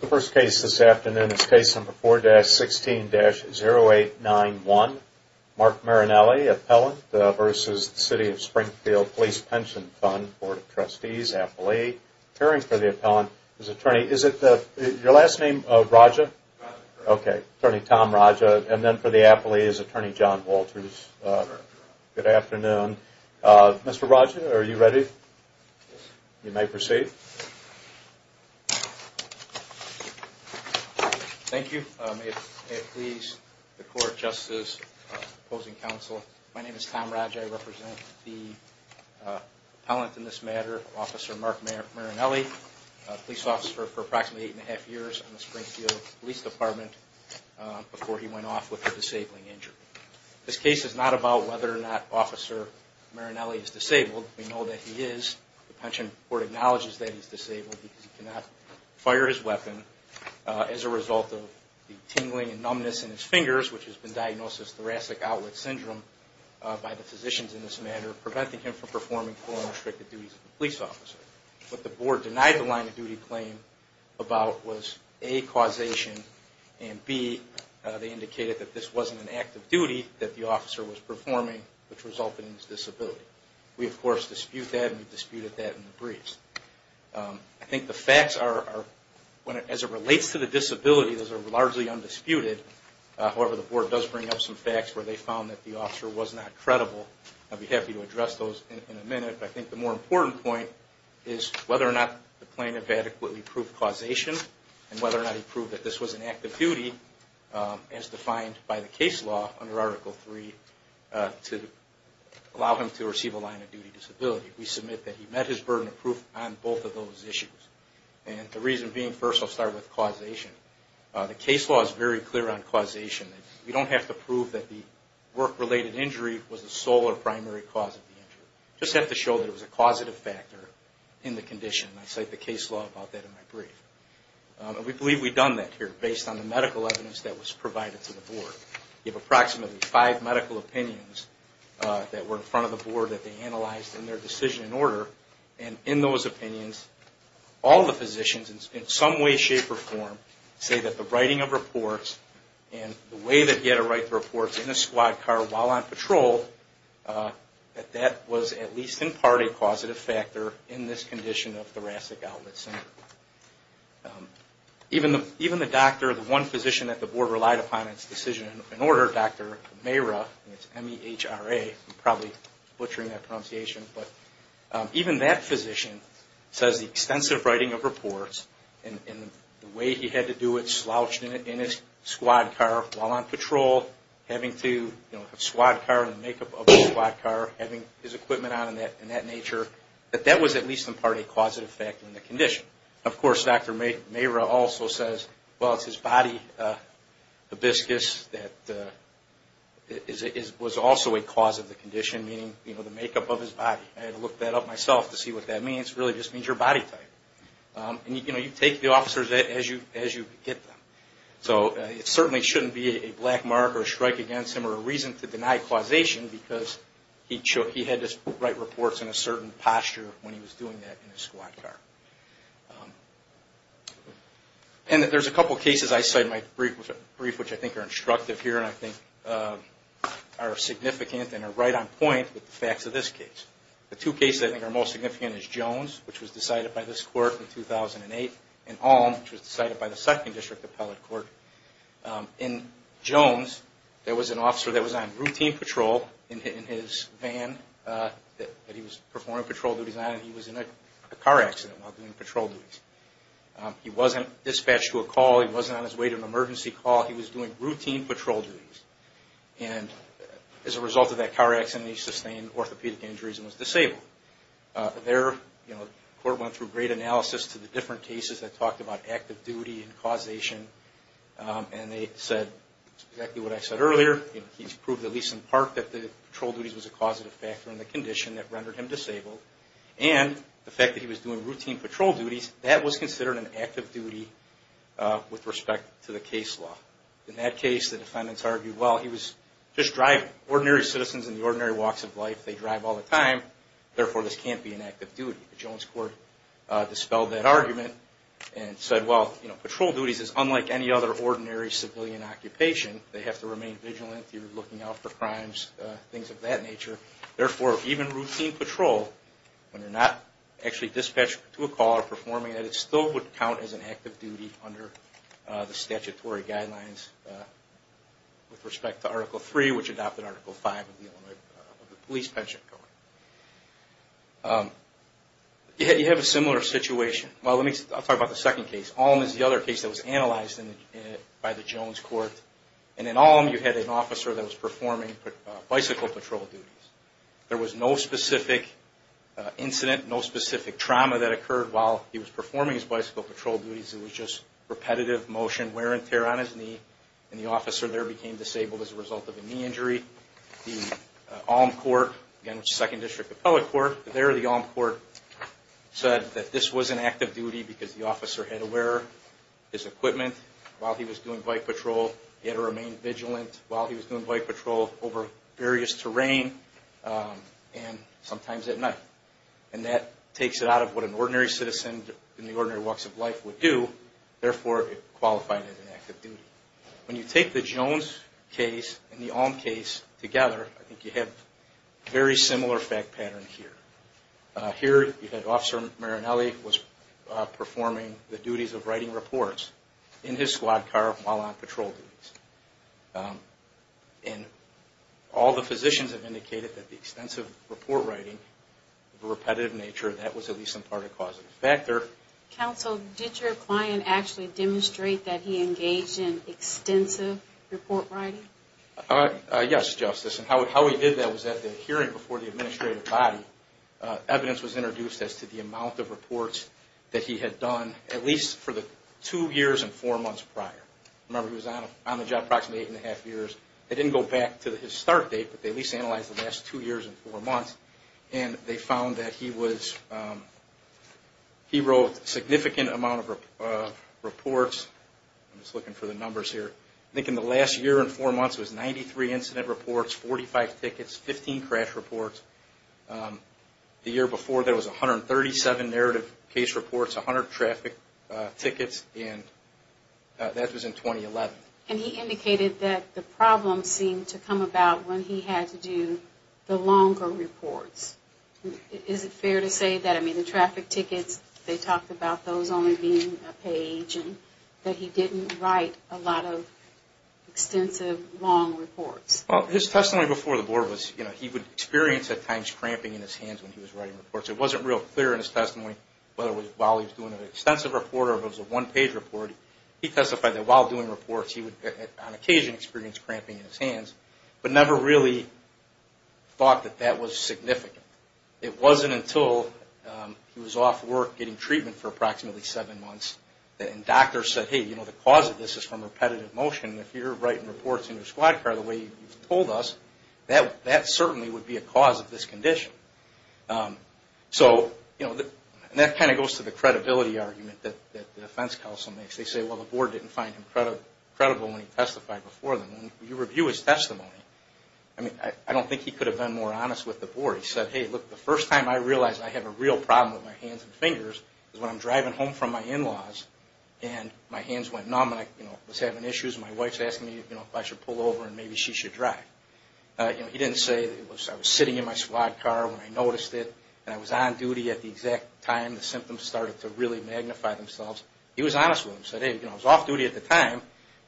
The first case this afternoon is case number 4-16-0891. Mark Marinelli, Appellant, v. City of Springfield Police Pension Fund Board of Trustees, Attorney Tom Raja, Appellant, v. City of Springfield Police Pension Board of Trustees This case is not about whether or not Officer Marinelli is disabled. We know that he is. The Pension Board acknowledges that he is disabled because he cannot fire his weapon as a result of the tingling and numbness in his fingers, which has been diagnosed as thoracic outlet syndrome by the physicians in this matter, preventing him from performing full and restricted duties. What the board denied the line of duty claim about was A, causation, and B, they indicated that this wasn't an act of duty that the officer was performing which resulted in his disability. We of course dispute that and we disputed that in the briefs. I think the facts are, as it relates to the disability, those are largely undisputed. However, the board does bring up some facts where they found that the officer was not credible. I'll be happy to address those in a minute. I think the more important point is whether or not the plaintiff adequately proved causation and whether or not he proved that this was an act of duty as defined by the case law under Article 3 to allow him to receive a line of duty disability. We submit that he met his burden of proof on both of those issues. The reason being, first I'll start with causation. The case law is very clear on causation. We don't have to prove that the work-related injury was the sole or primary cause of the injury. We just have to show that it was a causative factor in the condition. I cite the case law about that in my brief. We believe we've done that here based on the medical evidence that was provided to the board. We have approximately five medical opinions that were in front of the board that they analyzed in their decision and order. And in those opinions, all the physicians in some way, shape or form say that the writing of reports and the way that he had to write the reports in a squad car while on patrol, that that was at least in part a causative factor in this condition of thoracic outlet syndrome. Even the doctor, the one physician that the board relied upon in its decision and order, Dr. Mayra, and it's M-E-H-R-A, I'm probably butchering that pronunciation, but even that physician says the extensive writing of reports and the way he had to do it slouched in his squad car while on patrol, having to have a squad car and the makeup of the squad car, having his equipment on and that nature, that that was at least in part a causative factor in the condition. Of course, Dr. Mayra also says, well, it's his body hibiscus that was also a cause of the condition, meaning, you know, the makeup of his body. I had to look that up myself to see what that means. It really just means your body type. And, you know, you take the officers as you get them. So it certainly shouldn't be a black mark or a strike against him or a reason to deny causation because he had to write reports in a certain posture when he was doing that in his squad car. And there's a couple cases I cite in my brief which I think are instructive here and I think are significant and are right on point with the facts of this case. The two cases I think are most significant is Jones, which was decided by this court in 2008, and Alm, which was decided by the 2nd District Appellate Court. In Jones, there was an officer that was on routine patrol in his van that he was performing patrol duties on and he was in a car accident while doing patrol duties. He wasn't dispatched to a call. He wasn't on his way to an emergency call. He was doing routine patrol duties. And as a result of that car accident, he sustained orthopedic injuries and was disabled. There, you know, the court went through great analysis to the different cases that talked about active duty and causation. And they said exactly what I said earlier. He's proved at least in part that the patrol duties was a causative factor in the condition that rendered him disabled. And the fact that he was doing routine patrol duties, that was considered an active duty with respect to the case law. In that case, the defendants argued, well, he was just driving. Ordinary citizens in the ordinary walks of life, they drive all the time. Therefore, this can't be an active duty. The Jones court dispelled that argument and said, well, you know, patrol duties is unlike any other ordinary civilian occupation. They have to remain vigilant. You're looking out for crimes, things of that nature. Therefore, even routine patrol, when you're not actually dispatched to a call or performing it, it still would count as an active duty under the statutory guidelines with respect to Article 3, which adopted Article 5 of the Illinois Police Pension Code. You have a similar situation. Well, I'll talk about the second case. Alm is the other case that was analyzed by the Jones court. And in Alm, you had an officer that was performing bicycle patrol duties. There was no specific incident, no specific trauma that occurred while he was performing his bicycle patrol duties. It was just repetitive motion, wear and tear on his knee, and the officer there became disabled as a result of a knee injury. The Alm court, again, which is the Second District Appellate Court, there the Alm court said that this was an active duty because the officer had to wear his equipment while he was doing bike patrol. He had to remain vigilant while he was doing bike patrol over various terrain and sometimes at night. And that takes it out of what an ordinary citizen in the ordinary walks of life would do. Therefore, it qualified as an active duty. When you take the Jones case and the Alm case together, I think you have a very similar fact pattern here. Here, you had Officer Marinelli was performing the duties of writing reports in his squad car while on patrol duties. And all the physicians have indicated that the extensive report writing, the repetitive nature, that was at least some part of a causative factor. Counsel, did your client actually demonstrate that he engaged in extensive report writing? Yes, Justice. And how he did that was at the hearing before the administrative body, evidence was introduced as to the amount of reports that he had done at least for the two years and four months prior. Remember, he was on the job approximately eight and a half years. They didn't go back to his start date, but they at least analyzed the last two years and four months. And they found that he wrote a significant amount of reports. I'm just looking for the numbers here. I think in the last year and four months, it was 93 incident reports, 45 tickets, 15 crash reports. The year before, there was 137 narrative case reports, 100 traffic tickets, and that was in 2011. And he indicated that the problem seemed to come about when he had to do the longer reports. Is it fair to say that, I mean, the traffic tickets, they talked about those only being a page, and that he didn't write a lot of extensive, long reports? Well, his testimony before the board was, you know, he would experience at times cramping in his hands when he was writing reports. It wasn't real clear in his testimony whether it was while he was doing an extensive report or if it was a one-page report. He testified that while doing reports, he would on occasion experience cramping in his hands, but never really thought that that was significant. It wasn't until he was off work getting treatment for approximately seven months, and doctors said, hey, you know, the cause of this is from repetitive motion. If you're writing reports in your squad car the way you've told us, that certainly would be a cause of this condition. So, you know, that kind of goes to the credibility argument that the defense counsel makes. They say, well, the board didn't find him credible when he testified before them. When you review his testimony, I mean, I don't think he could have been more honest with the board. He said, hey, look, the first time I realized I have a real problem with my hands and fingers is when I'm driving home from my in-laws, and my hands went numb, and I was having issues, and my wife is asking me if I should pull over and maybe she should drive. He didn't say I was sitting in my squad car when I noticed it, and I was on duty at the exact time the symptoms started to really magnify themselves. He was honest with them. He said, hey, I was off duty at the time,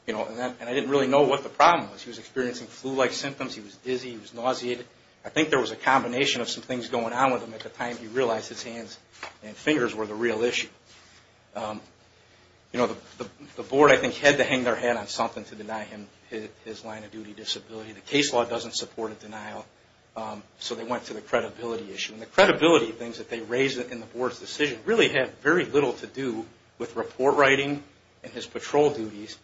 and I didn't really know what the problem was. He was experiencing flu-like symptoms. He was dizzy. He was nauseated. I think there was a combination of some things going on with him at the time he realized his hands and fingers were the real issue. You know, the board, I think, had to hang their hat on something to deny him his line of duty disability. The case law doesn't support a denial, so they went to the credibility issue. And the credibility things that they raise in the board's decision really have very little to do with report writing and his patrol duties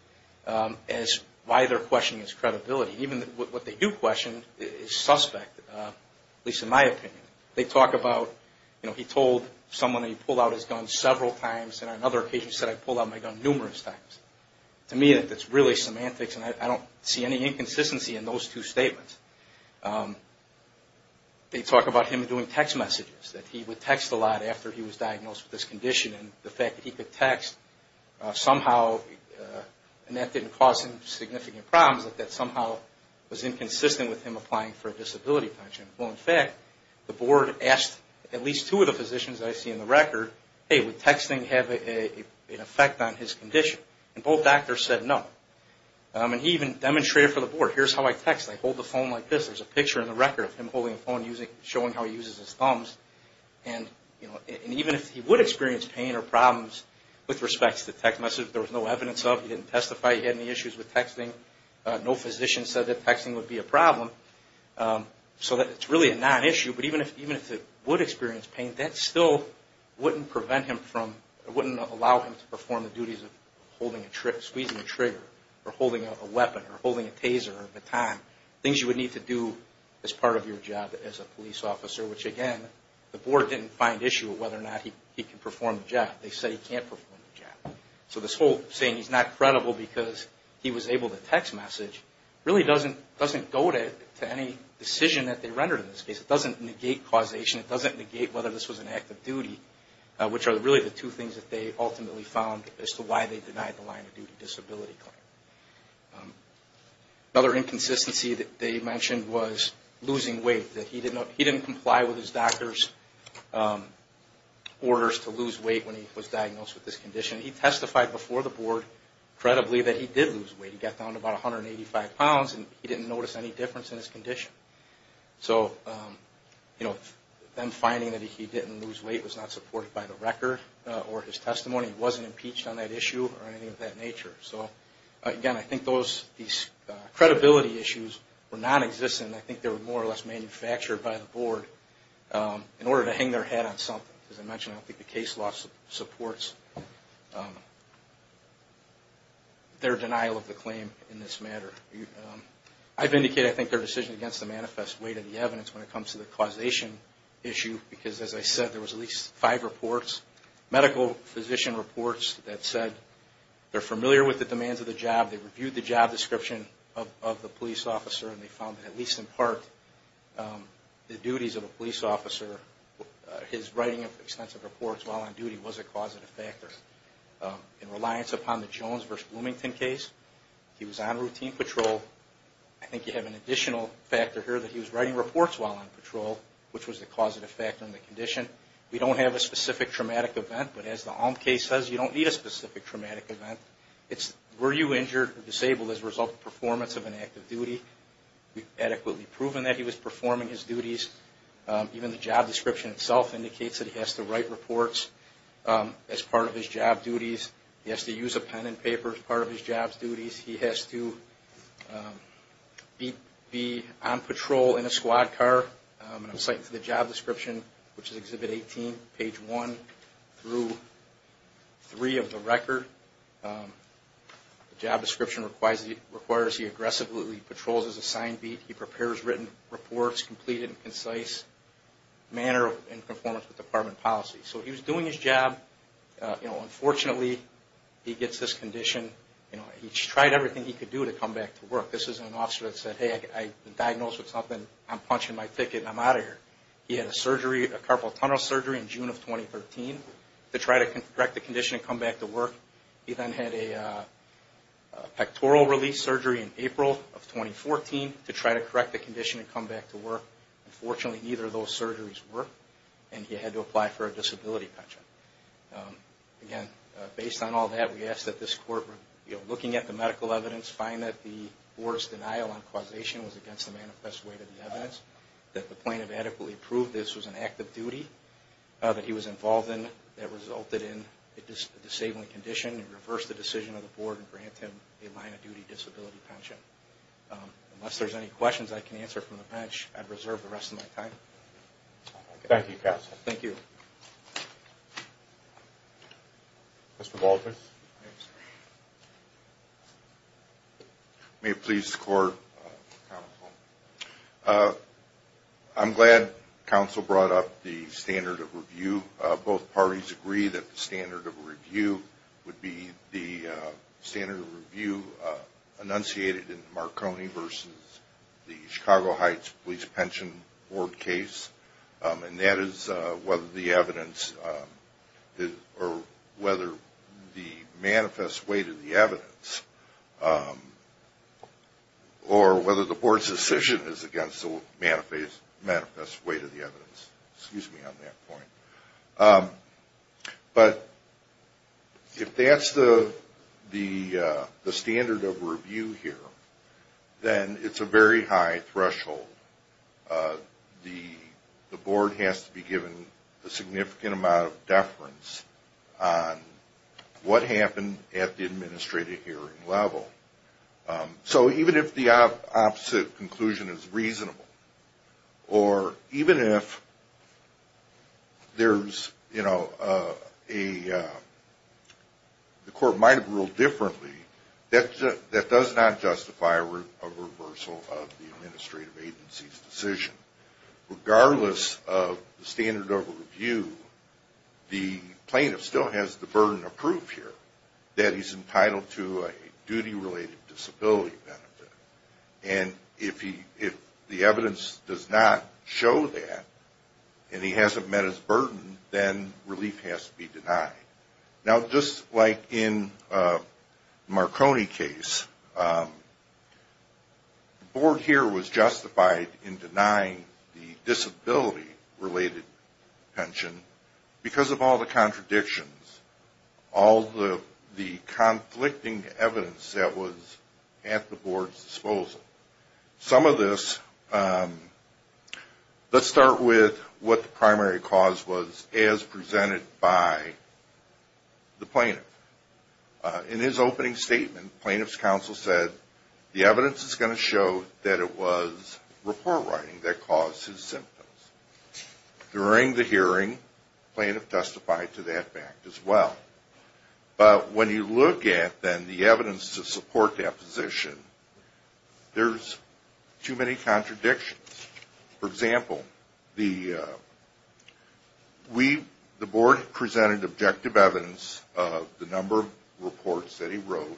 as why they're questioning his credibility. Even what they do question is suspect, at least in my opinion. They talk about, you know, he told someone he pulled out his gun several times, and on another occasion he said, I pull out my gun numerous times. To me, that's really semantics, and I don't see any inconsistency in those two statements. They talk about him doing text messages, that he would text a lot after he was diagnosed with this condition, and the fact that he could text somehow, and that didn't cause him significant problems, but that somehow was inconsistent with him applying for a disability pension. Well, in fact, the board asked at least two of the physicians that I see in the record, hey, would texting have an effect on his condition? And both doctors said no. And he even demonstrated for the board, here's how I text. I hold the phone like this. There's a picture in the record of him holding the phone, showing how he uses his thumbs, and even if he would experience pain or problems with respect to the text message, there was no evidence of it. He didn't testify he had any issues with texting. No physician said that texting would be a problem. So it's really a non-issue, but even if he would experience pain, that still wouldn't prevent him from, wouldn't allow him to perform the duties of squeezing a trigger, or holding a weapon, or holding a taser, or a baton, things you would need to do as part of your job as a police officer, which again, the board didn't find issue with whether or not he could perform the job. They said he can't perform the job. So this whole saying he's not credible because he was able to text message really doesn't go to any decision that they rendered in this case. It doesn't negate causation. It doesn't negate whether this was an act of duty, which are really the two things that they ultimately found as to why they denied the line of duty disability claim. Another inconsistency that they mentioned was losing weight. He didn't comply with his doctor's orders to lose weight when he was diagnosed with this condition. He testified before the board credibly that he did lose weight. He got down to about 185 pounds and he didn't notice any difference in his condition. So them finding that he didn't lose weight was not supported by the record or his testimony. He wasn't impeached on that issue or anything of that nature. So again, I think these credibility issues were nonexistent. I think they were more or less manufactured by the board in order to hang their head on something. As I mentioned, I don't think the case law supports their denial of the claim in this matter. I've indicated I think their decision against the manifest weight of the evidence when it comes to the causation issue because as I said, there was at least five reports, medical physician reports that said they're familiar with the demands of the job. They reviewed the job description of the police officer and they found that at least in part the duties of a police officer, his writing of extensive reports while on duty was a causative factor. In reliance upon the Jones v. Bloomington case, he was on routine patrol. I think you have an additional factor here that he was writing reports while on patrol, which was the causative factor in the condition. We don't have a specific traumatic event, but as the Alm case says, you don't need a specific traumatic event. It's were you injured or disabled as a result of performance of an active duty. We've adequately proven that he was performing his duties. Even the job description itself indicates that he has to write reports as part of his job duties. He has to use a pen and paper as part of his job duties. He has to be on patrol in a squad car and I'm citing for the job description previously page 1 through 3 of the record. The job description requires he aggressively patrols as a signed beat. He prepares written reports, completed in concise manner in performance with department policy. So he was doing his job on a Unfortunately, he gets this condition, you know, he tried everything he could do to come back to work. This is an officer that said, hey, I've been diagnosed with something, I'm punching my ticket and I'm out of here. He had a surgery, a carpal tunnel surgery in June of 2013 to try to correct the condition and come back to work. He then had a pectoral release surgery in April of 2014 to try to correct the condition and come back to work. Unfortunately, neither of those surgeries worked and he had to apply for a disability pension. Again, based on all that, we ask that this court, you know, looking at the medical evidence, find that the board's denial on causation was against the manifest weight of the evidence, that the plaintiff adequately proved this was an act of duty that he was involved in that resulted in a disabling condition and reverse the decision of the board and grant him a line of duty disability pension. Unless there's any questions I can answer from the bench, I'd reserve the rest of my time. Thank you, counsel. Thank you. Mr. Baldwin. May it please the court, counsel. I'm glad counsel brought up the standard of review. Both parties agree that the standard of review would be the standard of review enunciated in the Marconi versus the Chicago Heights Police Pension Board case, and that is whether the plaintiff is in favor of the standard of review. The question is whether the board's decision is against the manifest weight of the evidence, or whether the board's decision is against the manifest weight of the evidence. Excuse me on that point. But if that's the standard of review here, then it's a very high threshold. The board has to be given the standard of review. The board has to be given a significant amount of deference on what happened at the administrative hearing level. So even if the opposite conclusion is reasonable, or even if there's, you know, the court might have ruled differently, that does not justify a reversal of the administrative agency's decision. Regardless of the standard of review, the plaintiff still has the burden of proof here that he's entitled to a duty-related disability benefit. And if the evidence does not show that, and he hasn't met his burden, then relief has to be denied. Now, just like in the Marconi case, the board here was justified in denying the disability-related pension because of all the contradictions, all the conflicting evidence that was at the board's disposal. Some of this, let's start with what the primary cause was as presented by the plaintiff. In his opening statement, the plaintiff's counsel said the evidence is going to show that it was report writing that caused his symptoms. During the hearing, the plaintiff testified to that fact as well. But when you look at, then, the evidence to support that position, there's too many contradictions. For example, the board presented objective evidence of the number of reports that he wrote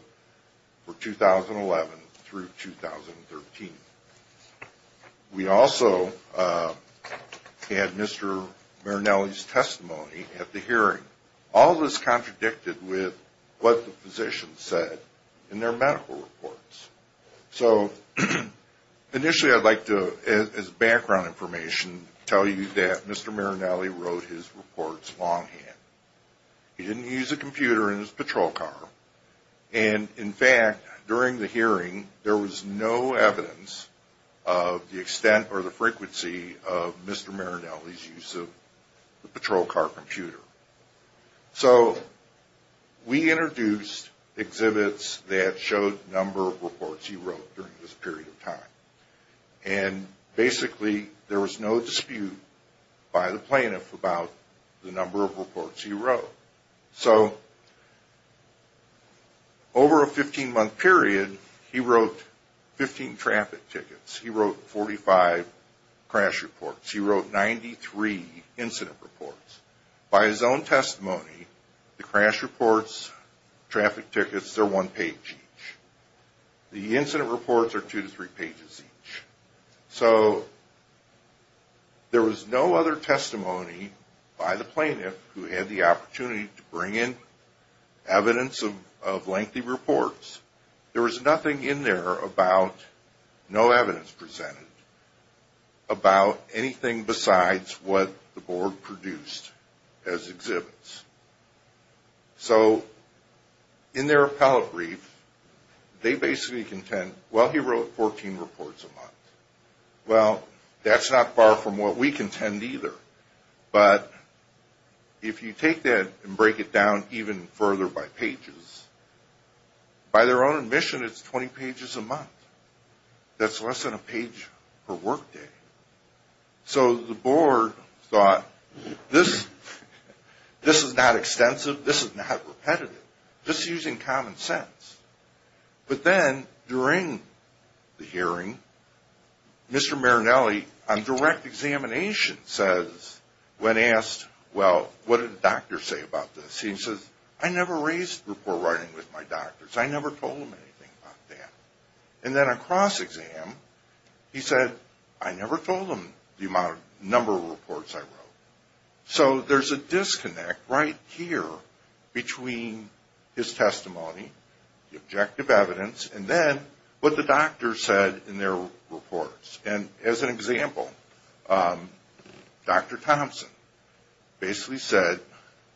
for 2011 through 2013. We also had Mr. Marinelli's testimony at the hearing. All of this contradicted with what the physician said in their medical reports. So initially, I'd like to, as background information, tell you that Mr. Marinelli wrote his reports longhand. He didn't use a computer in his patrol car. And in fact, during the hearing, there was no evidence of the extent or the frequency of Mr. Marinelli's use of the patrol car computer. So we introduced exhibits that showed the number of reports he wrote during this period of time. And basically, there was no dispute by the plaintiff about the number of reports he wrote. So over a 15-month period, he wrote 15 traffic tickets. He wrote 45 crash reports. He wrote 93 incident reports. By his own testimony, the crash reports, traffic tickets, they're one page each. The incident reports are two to three pages each. So there was no other testimony by the plaintiff who had the opportunity to bring in evidence of lengthy reports. There was nothing in there about no evidence presented about anything besides what the board produced as exhibits. So in their appellate brief, they basically contend, well, he wrote 14 reports a month. Well, that's not far from what we contend either. But if you take that and break it down even further by pages, by their own admission, it's 20 pages a month. That's less than a page per workday. So the board thought, this is not extensive. This is not repetitive. This is using common sense. But then, during the hearing, Mr. Marinelli, on direct examination, says, when asked, well, what did the doctor say about this? He says, I never raised report writing with my doctors. I never told them anything about that. And then on cross-exam, he said, I never told them the number of reports I wrote. So there's a disconnect right here between his testimony, the objective evidence, and then what the doctor said in their reports. And as an example, Dr. Thompson basically said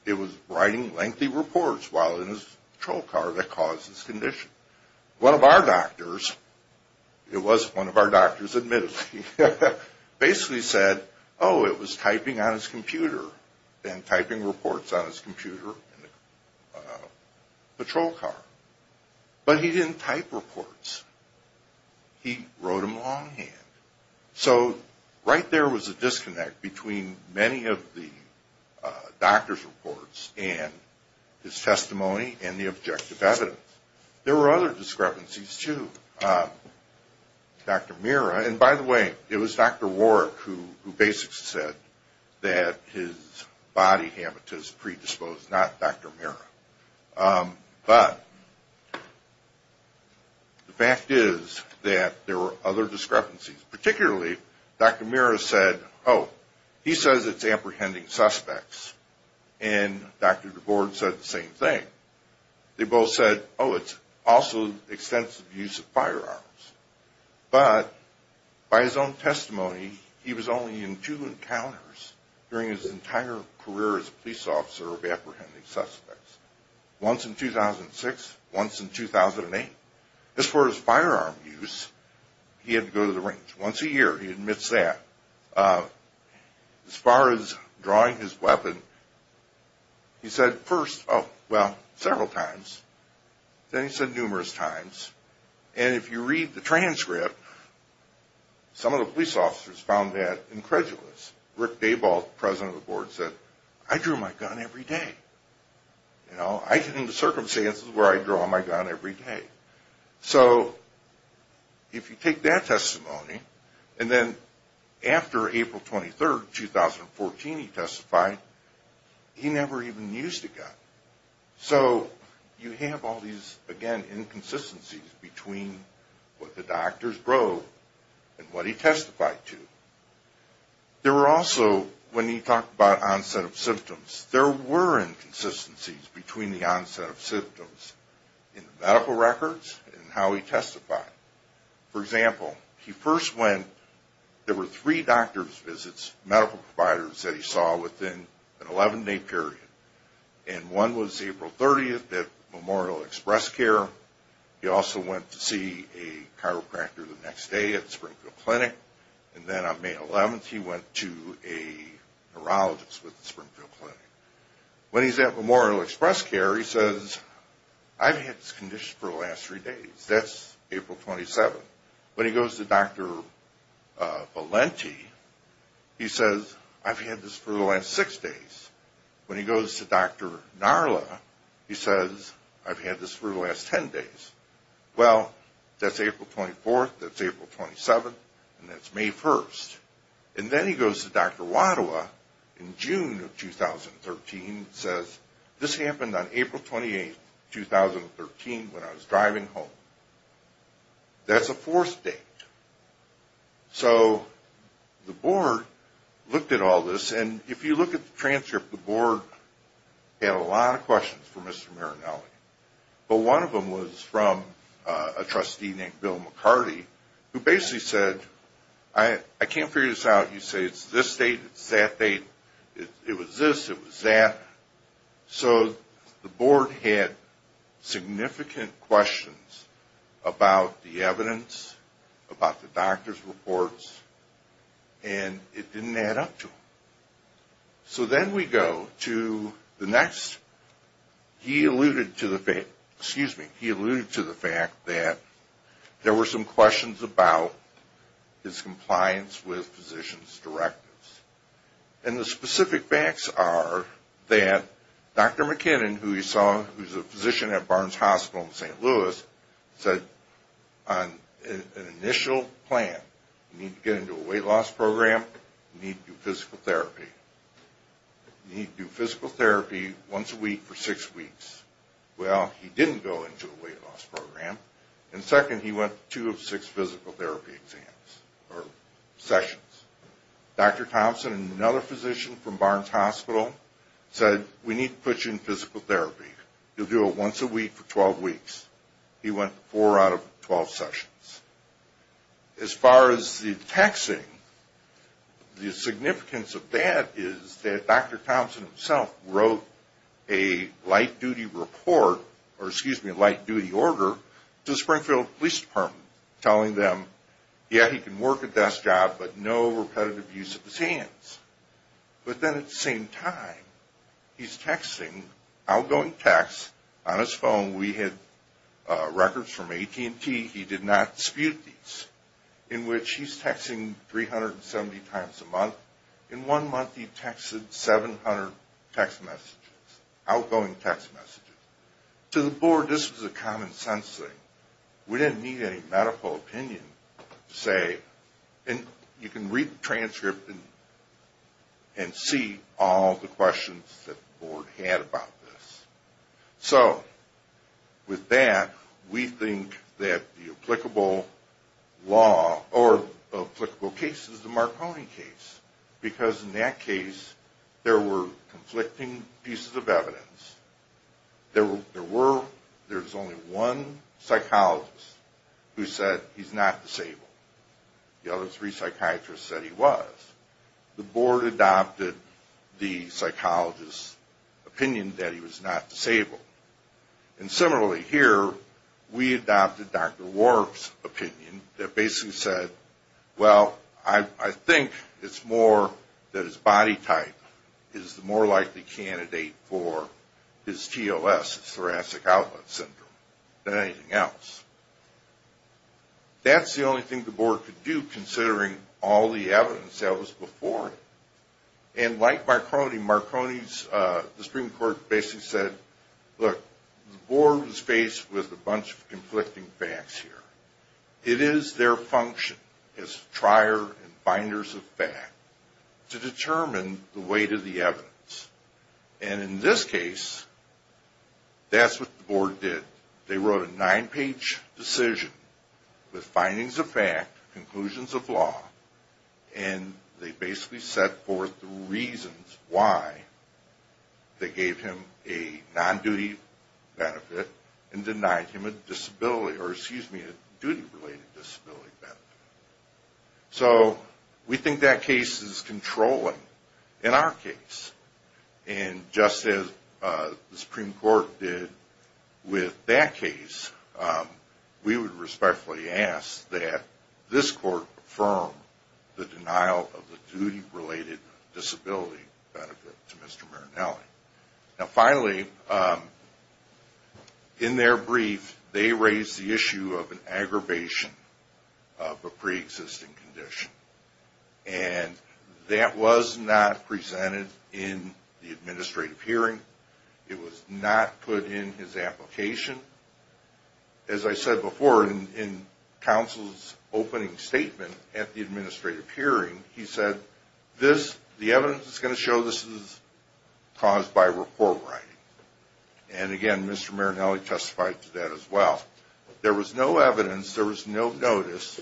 it was writing lengthy reports while in his patrol car that caused his condition. One of our doctors, it was one of our doctors admittedly, basically said, oh, it was typing on his computer and typing reports on his computer in the patrol car. But he didn't type reports. He wrote them longhand. So right there was a disconnect between many of the doctor's reports and his testimony and the objective evidence. There were other discrepancies, too. Dr. Mira, and by the way, it was Dr. Warrick who basically said that his body habitus predisposed, not Dr. Mira. But the fact is that there were other discrepancies. Particularly, Dr. Mira said, oh, he says it's apprehending suspects. And Dr. DeBoer said the same thing. They both said, oh, it's also extensive use of firearms. But by his own testimony, he was only in two encounters during his entire career as a police officer of apprehending suspects. Once in 2006, once in 2008. As far as firearm use, he had to go to the range once a year. He admits that. As far as drawing his weapon, he said first, oh, well, several times. Then he said numerous times. And if you read the transcript, some of the police officers found that incredulous. Rick Dayball, president of the board, said, I drew my gun every day. I get into circumstances where I draw my gun every day. So if you take that testimony, and then after April 23, 2014, he testified, he never even used a gun. So you have all these, again, inconsistencies between what the doctors drove and what he testified to. There were also, when he talked about onset of symptoms, there were inconsistencies between the onset of symptoms in the medical records and how he testified. For example, he first went, there were three doctor's visits, medical providers that he saw within an 11-day period. And one was April 30th at Memorial Express Care. He also went to see a chiropractor the next day at Springfield Clinic. And then on May 11th, he went to a neurologist with Springfield Clinic. When he's at Memorial Express Care, he says, I've had this condition for the last three days. That's April 27th. When he goes to Dr. Valenti, he says, I've had this for the last six days. When he goes to Dr. Narla, he says, I've had this for the last 10 days. Well, that's April 24th, that's April 27th, and that's May 1st. And then he goes to Dr. Wadawa in June of 2013 and says, this happened on April 28th, 2013 when I was driving home. That's a fourth date. So the board looked at all this, and if you look at the transcript, the board had a lot of questions for Mr. Marinelli. But one of them was from a trustee named Bill McCarty, who basically said, I can't figure this out. You say it's this date, it's that date. It was this, it was that. So the board had significant questions about the evidence, about the doctor's reports, and it didn't add up to them. So then we go to the next. He alluded to the fact that there were some questions about his compliance with physician's directives. And the specific facts are that Dr. McKinnon, who he saw was a physician at Barnes Hospital in St. Louis, said on an initial plan, you need to get into a weight loss program, you need to do physical therapy. You need to do physical therapy once a week for six weeks. Well, he didn't go into a weight loss program. And second, he went to two of six physical therapy sessions. Dr. Thompson, another physician from Barnes Hospital, said, we need to put you in physical therapy. You'll do it once a week for 12 weeks. He went four out of 12 sessions. As far as the texting, the significance of that is that Dr. Thompson himself wrote a light-duty report, or excuse me, a light-duty order, to the Springfield Police Department, telling them, yeah, he can work a desk job, but no repetitive use of his hands. But then at the same time, he's texting outgoing texts on his phone. We had records from AT&T, he did not dispute these, in which he's texting 370 times a month. In one month, he texted 700 text messages, outgoing text messages. To the board, this was a common-sense thing. We didn't need any medical opinion to say, you can read the transcript and see all the questions that the board had about this. So with that, we think that the applicable case is the Marconi case, because in that case, there were conflicting pieces of evidence. There was only one psychologist who said he's not disabled. The other three psychiatrists said he was. The board adopted the psychologist's opinion that he was not disabled. And similarly here, we adopted Dr. Warf's opinion that basically said, well, I think it's more that his body type is the more likely candidate for his TOS, his thoracic outlet syndrome, than anything else. That's the only thing the board could do, considering all the evidence that was before it. And like Marconi, the Supreme Court basically said, look, the board was faced with a bunch of conflicting facts here. It is their function as trier and binders of fact to determine the weight of the evidence. And in this case, that's what the board did. They wrote a nine-page decision with findings of fact, conclusions of law, and they basically set forth the reasons why they gave him a non-duty benefit and denied him a duty-related disability benefit. So we think that case is controlling in our case. And just as the Supreme Court did with that case, we would respectfully ask that this court affirm the denial of the duty-related disability benefit to Mr. Marinelli. Now finally, in their brief, they raised the issue of an aggravation of a pre-existing condition. And that was not presented in the administrative hearing. It was not put in his application. As I said before, in counsel's opening statement at the administrative hearing, he said, the evidence is going to show this is caused by report writing. And again, Mr. Marinelli testified to that as well. There was no evidence. There was no notice.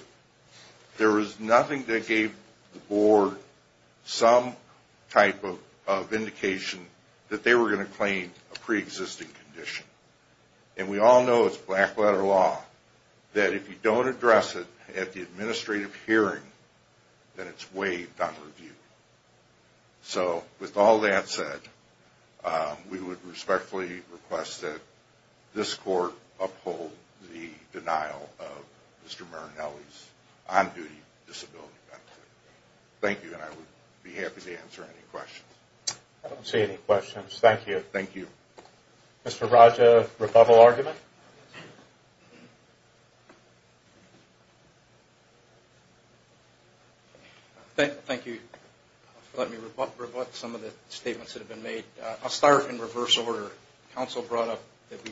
There was nothing that gave the board some type of indication that they were going to claim a pre-existing condition. And we all know it's black-letter law, that if you don't address it at the administrative hearing, then it's waived on review. So with all that said, we would respectfully request that this court uphold the denial of Mr. Marinelli's on-duty disability benefit. Thank you, and I would be happy to answer any questions. I don't see any questions. Thank you. Thank you. Mr. Raja, rebuttal argument? Thank you for letting me rebut some of the statements that have been made. I'll start in reverse order. Counsel brought up that the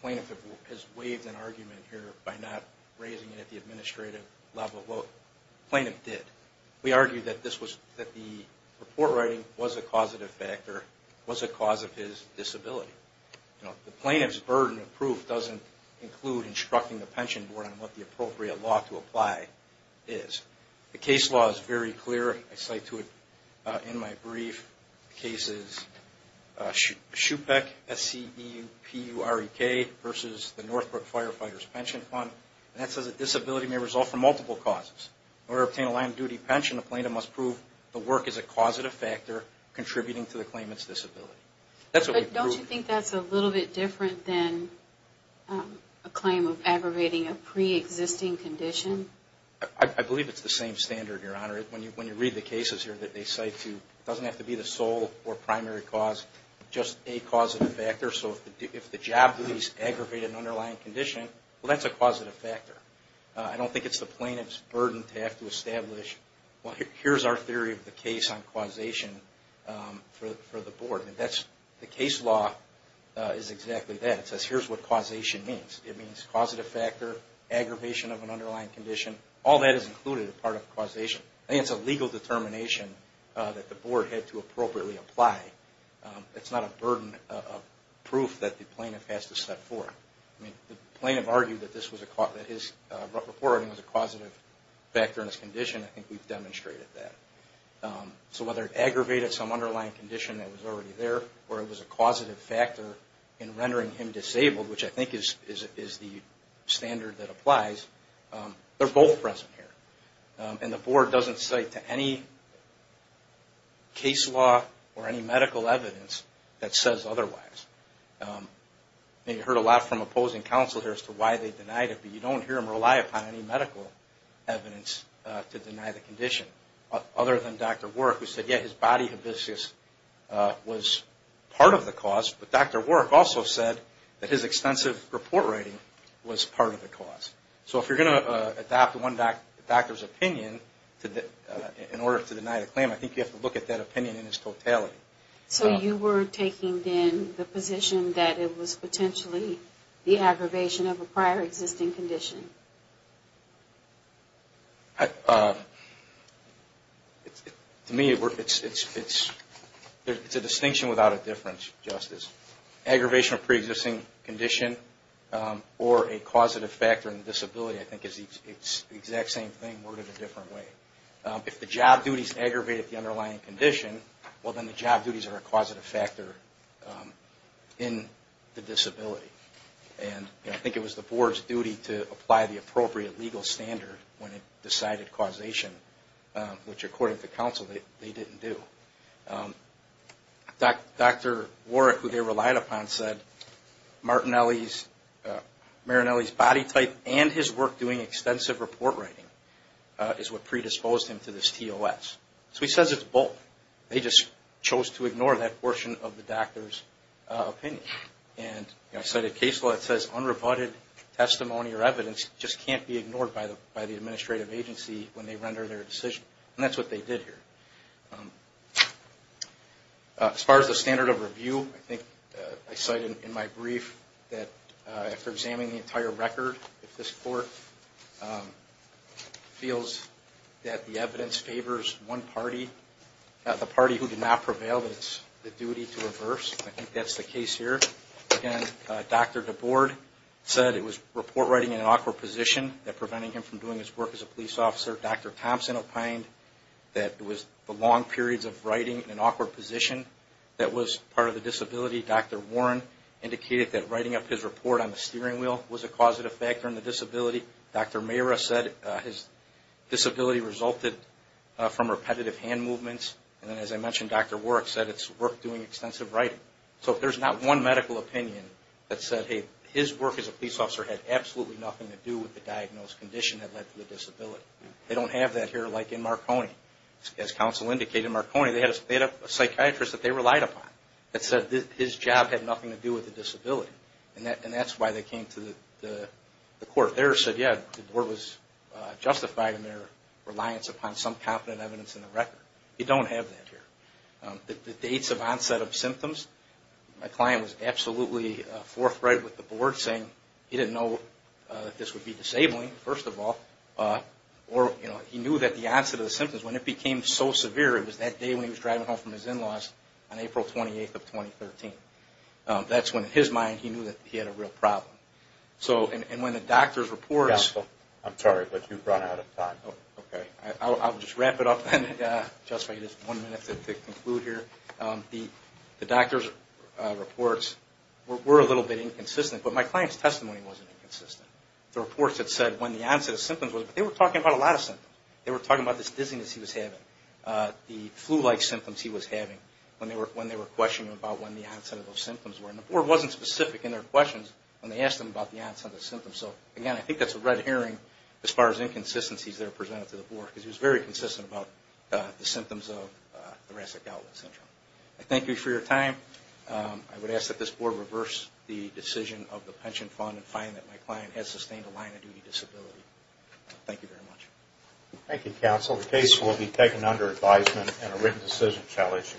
plaintiff has waived an argument here by not raising it at the administrative level. Well, the plaintiff did. We argued that the report writing was a causative factor, was a cause of his disability. The plaintiff's burden of proof doesn't include instructing the pension board on what the appropriate law to apply is. The case law is very clear. I cite to it in my brief. The case is SHUPEC, S-C-E-U-P-U-R-E-K, versus the Northbrook Firefighters Pension Fund. And that says that disability may result from multiple causes. In order to obtain a land-duty pension, the plaintiff must prove the work is a causative factor contributing to the claimant's disability. But don't you think that's a little bit different than a claim of aggravating a pre-existing condition? I believe it's the same standard, Your Honor. When you read the cases here that they cite to, it doesn't have to be the sole or primary cause, just a causative factor. So if the job is aggravated in an underlying condition, well that's a causative factor. I don't think it's the plaintiff's burden to have to establish, well here's our theory of the case on causation for the board. The case law is exactly that. It says here's what causation means. It means causative factor, aggravation of an underlying condition. All that is included as part of causation. I think it's a legal determination that the board had to appropriately apply. It's not a burden of proof that the plaintiff has to set forth. The plaintiff argued that his report was a causative factor in his condition. I think we've demonstrated that. So whether it aggravated some underlying condition that was already there or it was a causative factor in rendering him disabled, which I think is the standard that applies, they're both present here. And the board doesn't cite to any case law or any medical evidence that says otherwise. And you heard a lot from opposing counsel here as to why they denied it, but you don't hear them rely upon any medical evidence to deny the condition. Other than Dr. Warrick who said, yeah, his body habescias was part of the cause, but Dr. Warrick also said that his extensive report writing was part of the cause. So if you're going to adopt one doctor's opinion in order to deny the claim, I think you have to look at that opinion in its totality. So you were taking then the position that it was potentially the aggravation of a prior existing condition? To me, it's a distinction without a difference, Justice. Aggravation of a pre-existing condition or a causative factor in disability, I think it's the exact same thing worded a different way. If the job duties aggravated the underlying condition, well then the job duties are a causative factor in the disability. And I think it was the board's duty to apply the appropriate legal standard when it decided causation, which according to counsel, they didn't do. Dr. Warrick, who they relied upon, said Martinelli's body type and his work doing extensive report writing is what predisposed him to this TOS. So he says it's both. They just chose to ignore that portion of the doctor's opinion. And I cited case law that says unrebutted testimony or evidence just can't be ignored by the administrative agency when they render their decision. And that's what they did here. As far as the standard of review, I think I cited in my brief that after examining the entire record, if this court feels that the evidence favors one party, the party who did not prevail, that it's the duty to reverse. I think that's the case here. Again, Dr. DeBoard said it was report writing in an awkward position that prevented him from doing his work as a police officer. Dr. Thompson opined that it was the long periods of writing in an awkward position that was part of the disability. Dr. Warren indicated that writing up his report on the steering wheel was a causative factor in the disability. Dr. Mayra said his disability resulted from repetitive hand movements. And as I mentioned, Dr. Warrick said it's work doing extensive writing. So if there's not one medical opinion that said, hey, his work as a police officer had absolutely nothing to do with the diagnosed condition that led to the disability, they don't have that here like in Marconi. As counsel indicated, Marconi, they had a psychiatrist that they relied upon that said his job had nothing to do with the disability. And that's why they came to the court. Dr. DeBoard there said, yeah, DeBoard was justified in their reliance upon some competent evidence in the record. You don't have that here. The dates of onset of symptoms, my client was absolutely forthright with DeBoard saying he didn't know that this would be disabling, first of all, or he knew that the onset of the symptoms, when it became so severe, it was that day when he was driving home from his in-laws on April 28th of 2013. That's when in his mind he knew that he had a real problem. I'm sorry, but you've run out of time. Okay. I'll just wrap it up then. Just one minute to conclude here. The doctor's reports were a little bit inconsistent, but my client's testimony wasn't inconsistent. The reports that said when the onset of symptoms, they were talking about a lot of symptoms. They were talking about this dizziness he was having, the flu-like symptoms he was having when they were questioning about when the onset of those symptoms were. And DeBoard wasn't specific in their questions when they asked them about the onset of symptoms. So, again, I think that's a red herring as far as inconsistencies that are presented to DeBoard, because he was very consistent about the symptoms of thoracic outlet syndrome. I thank you for your time. I would ask that this board reverse the decision of the pension fund and find that my client has sustained a line-of-duty disability. Thank you very much. Thank you, counsel. The case will be taken under advisement and a written decision shall issue.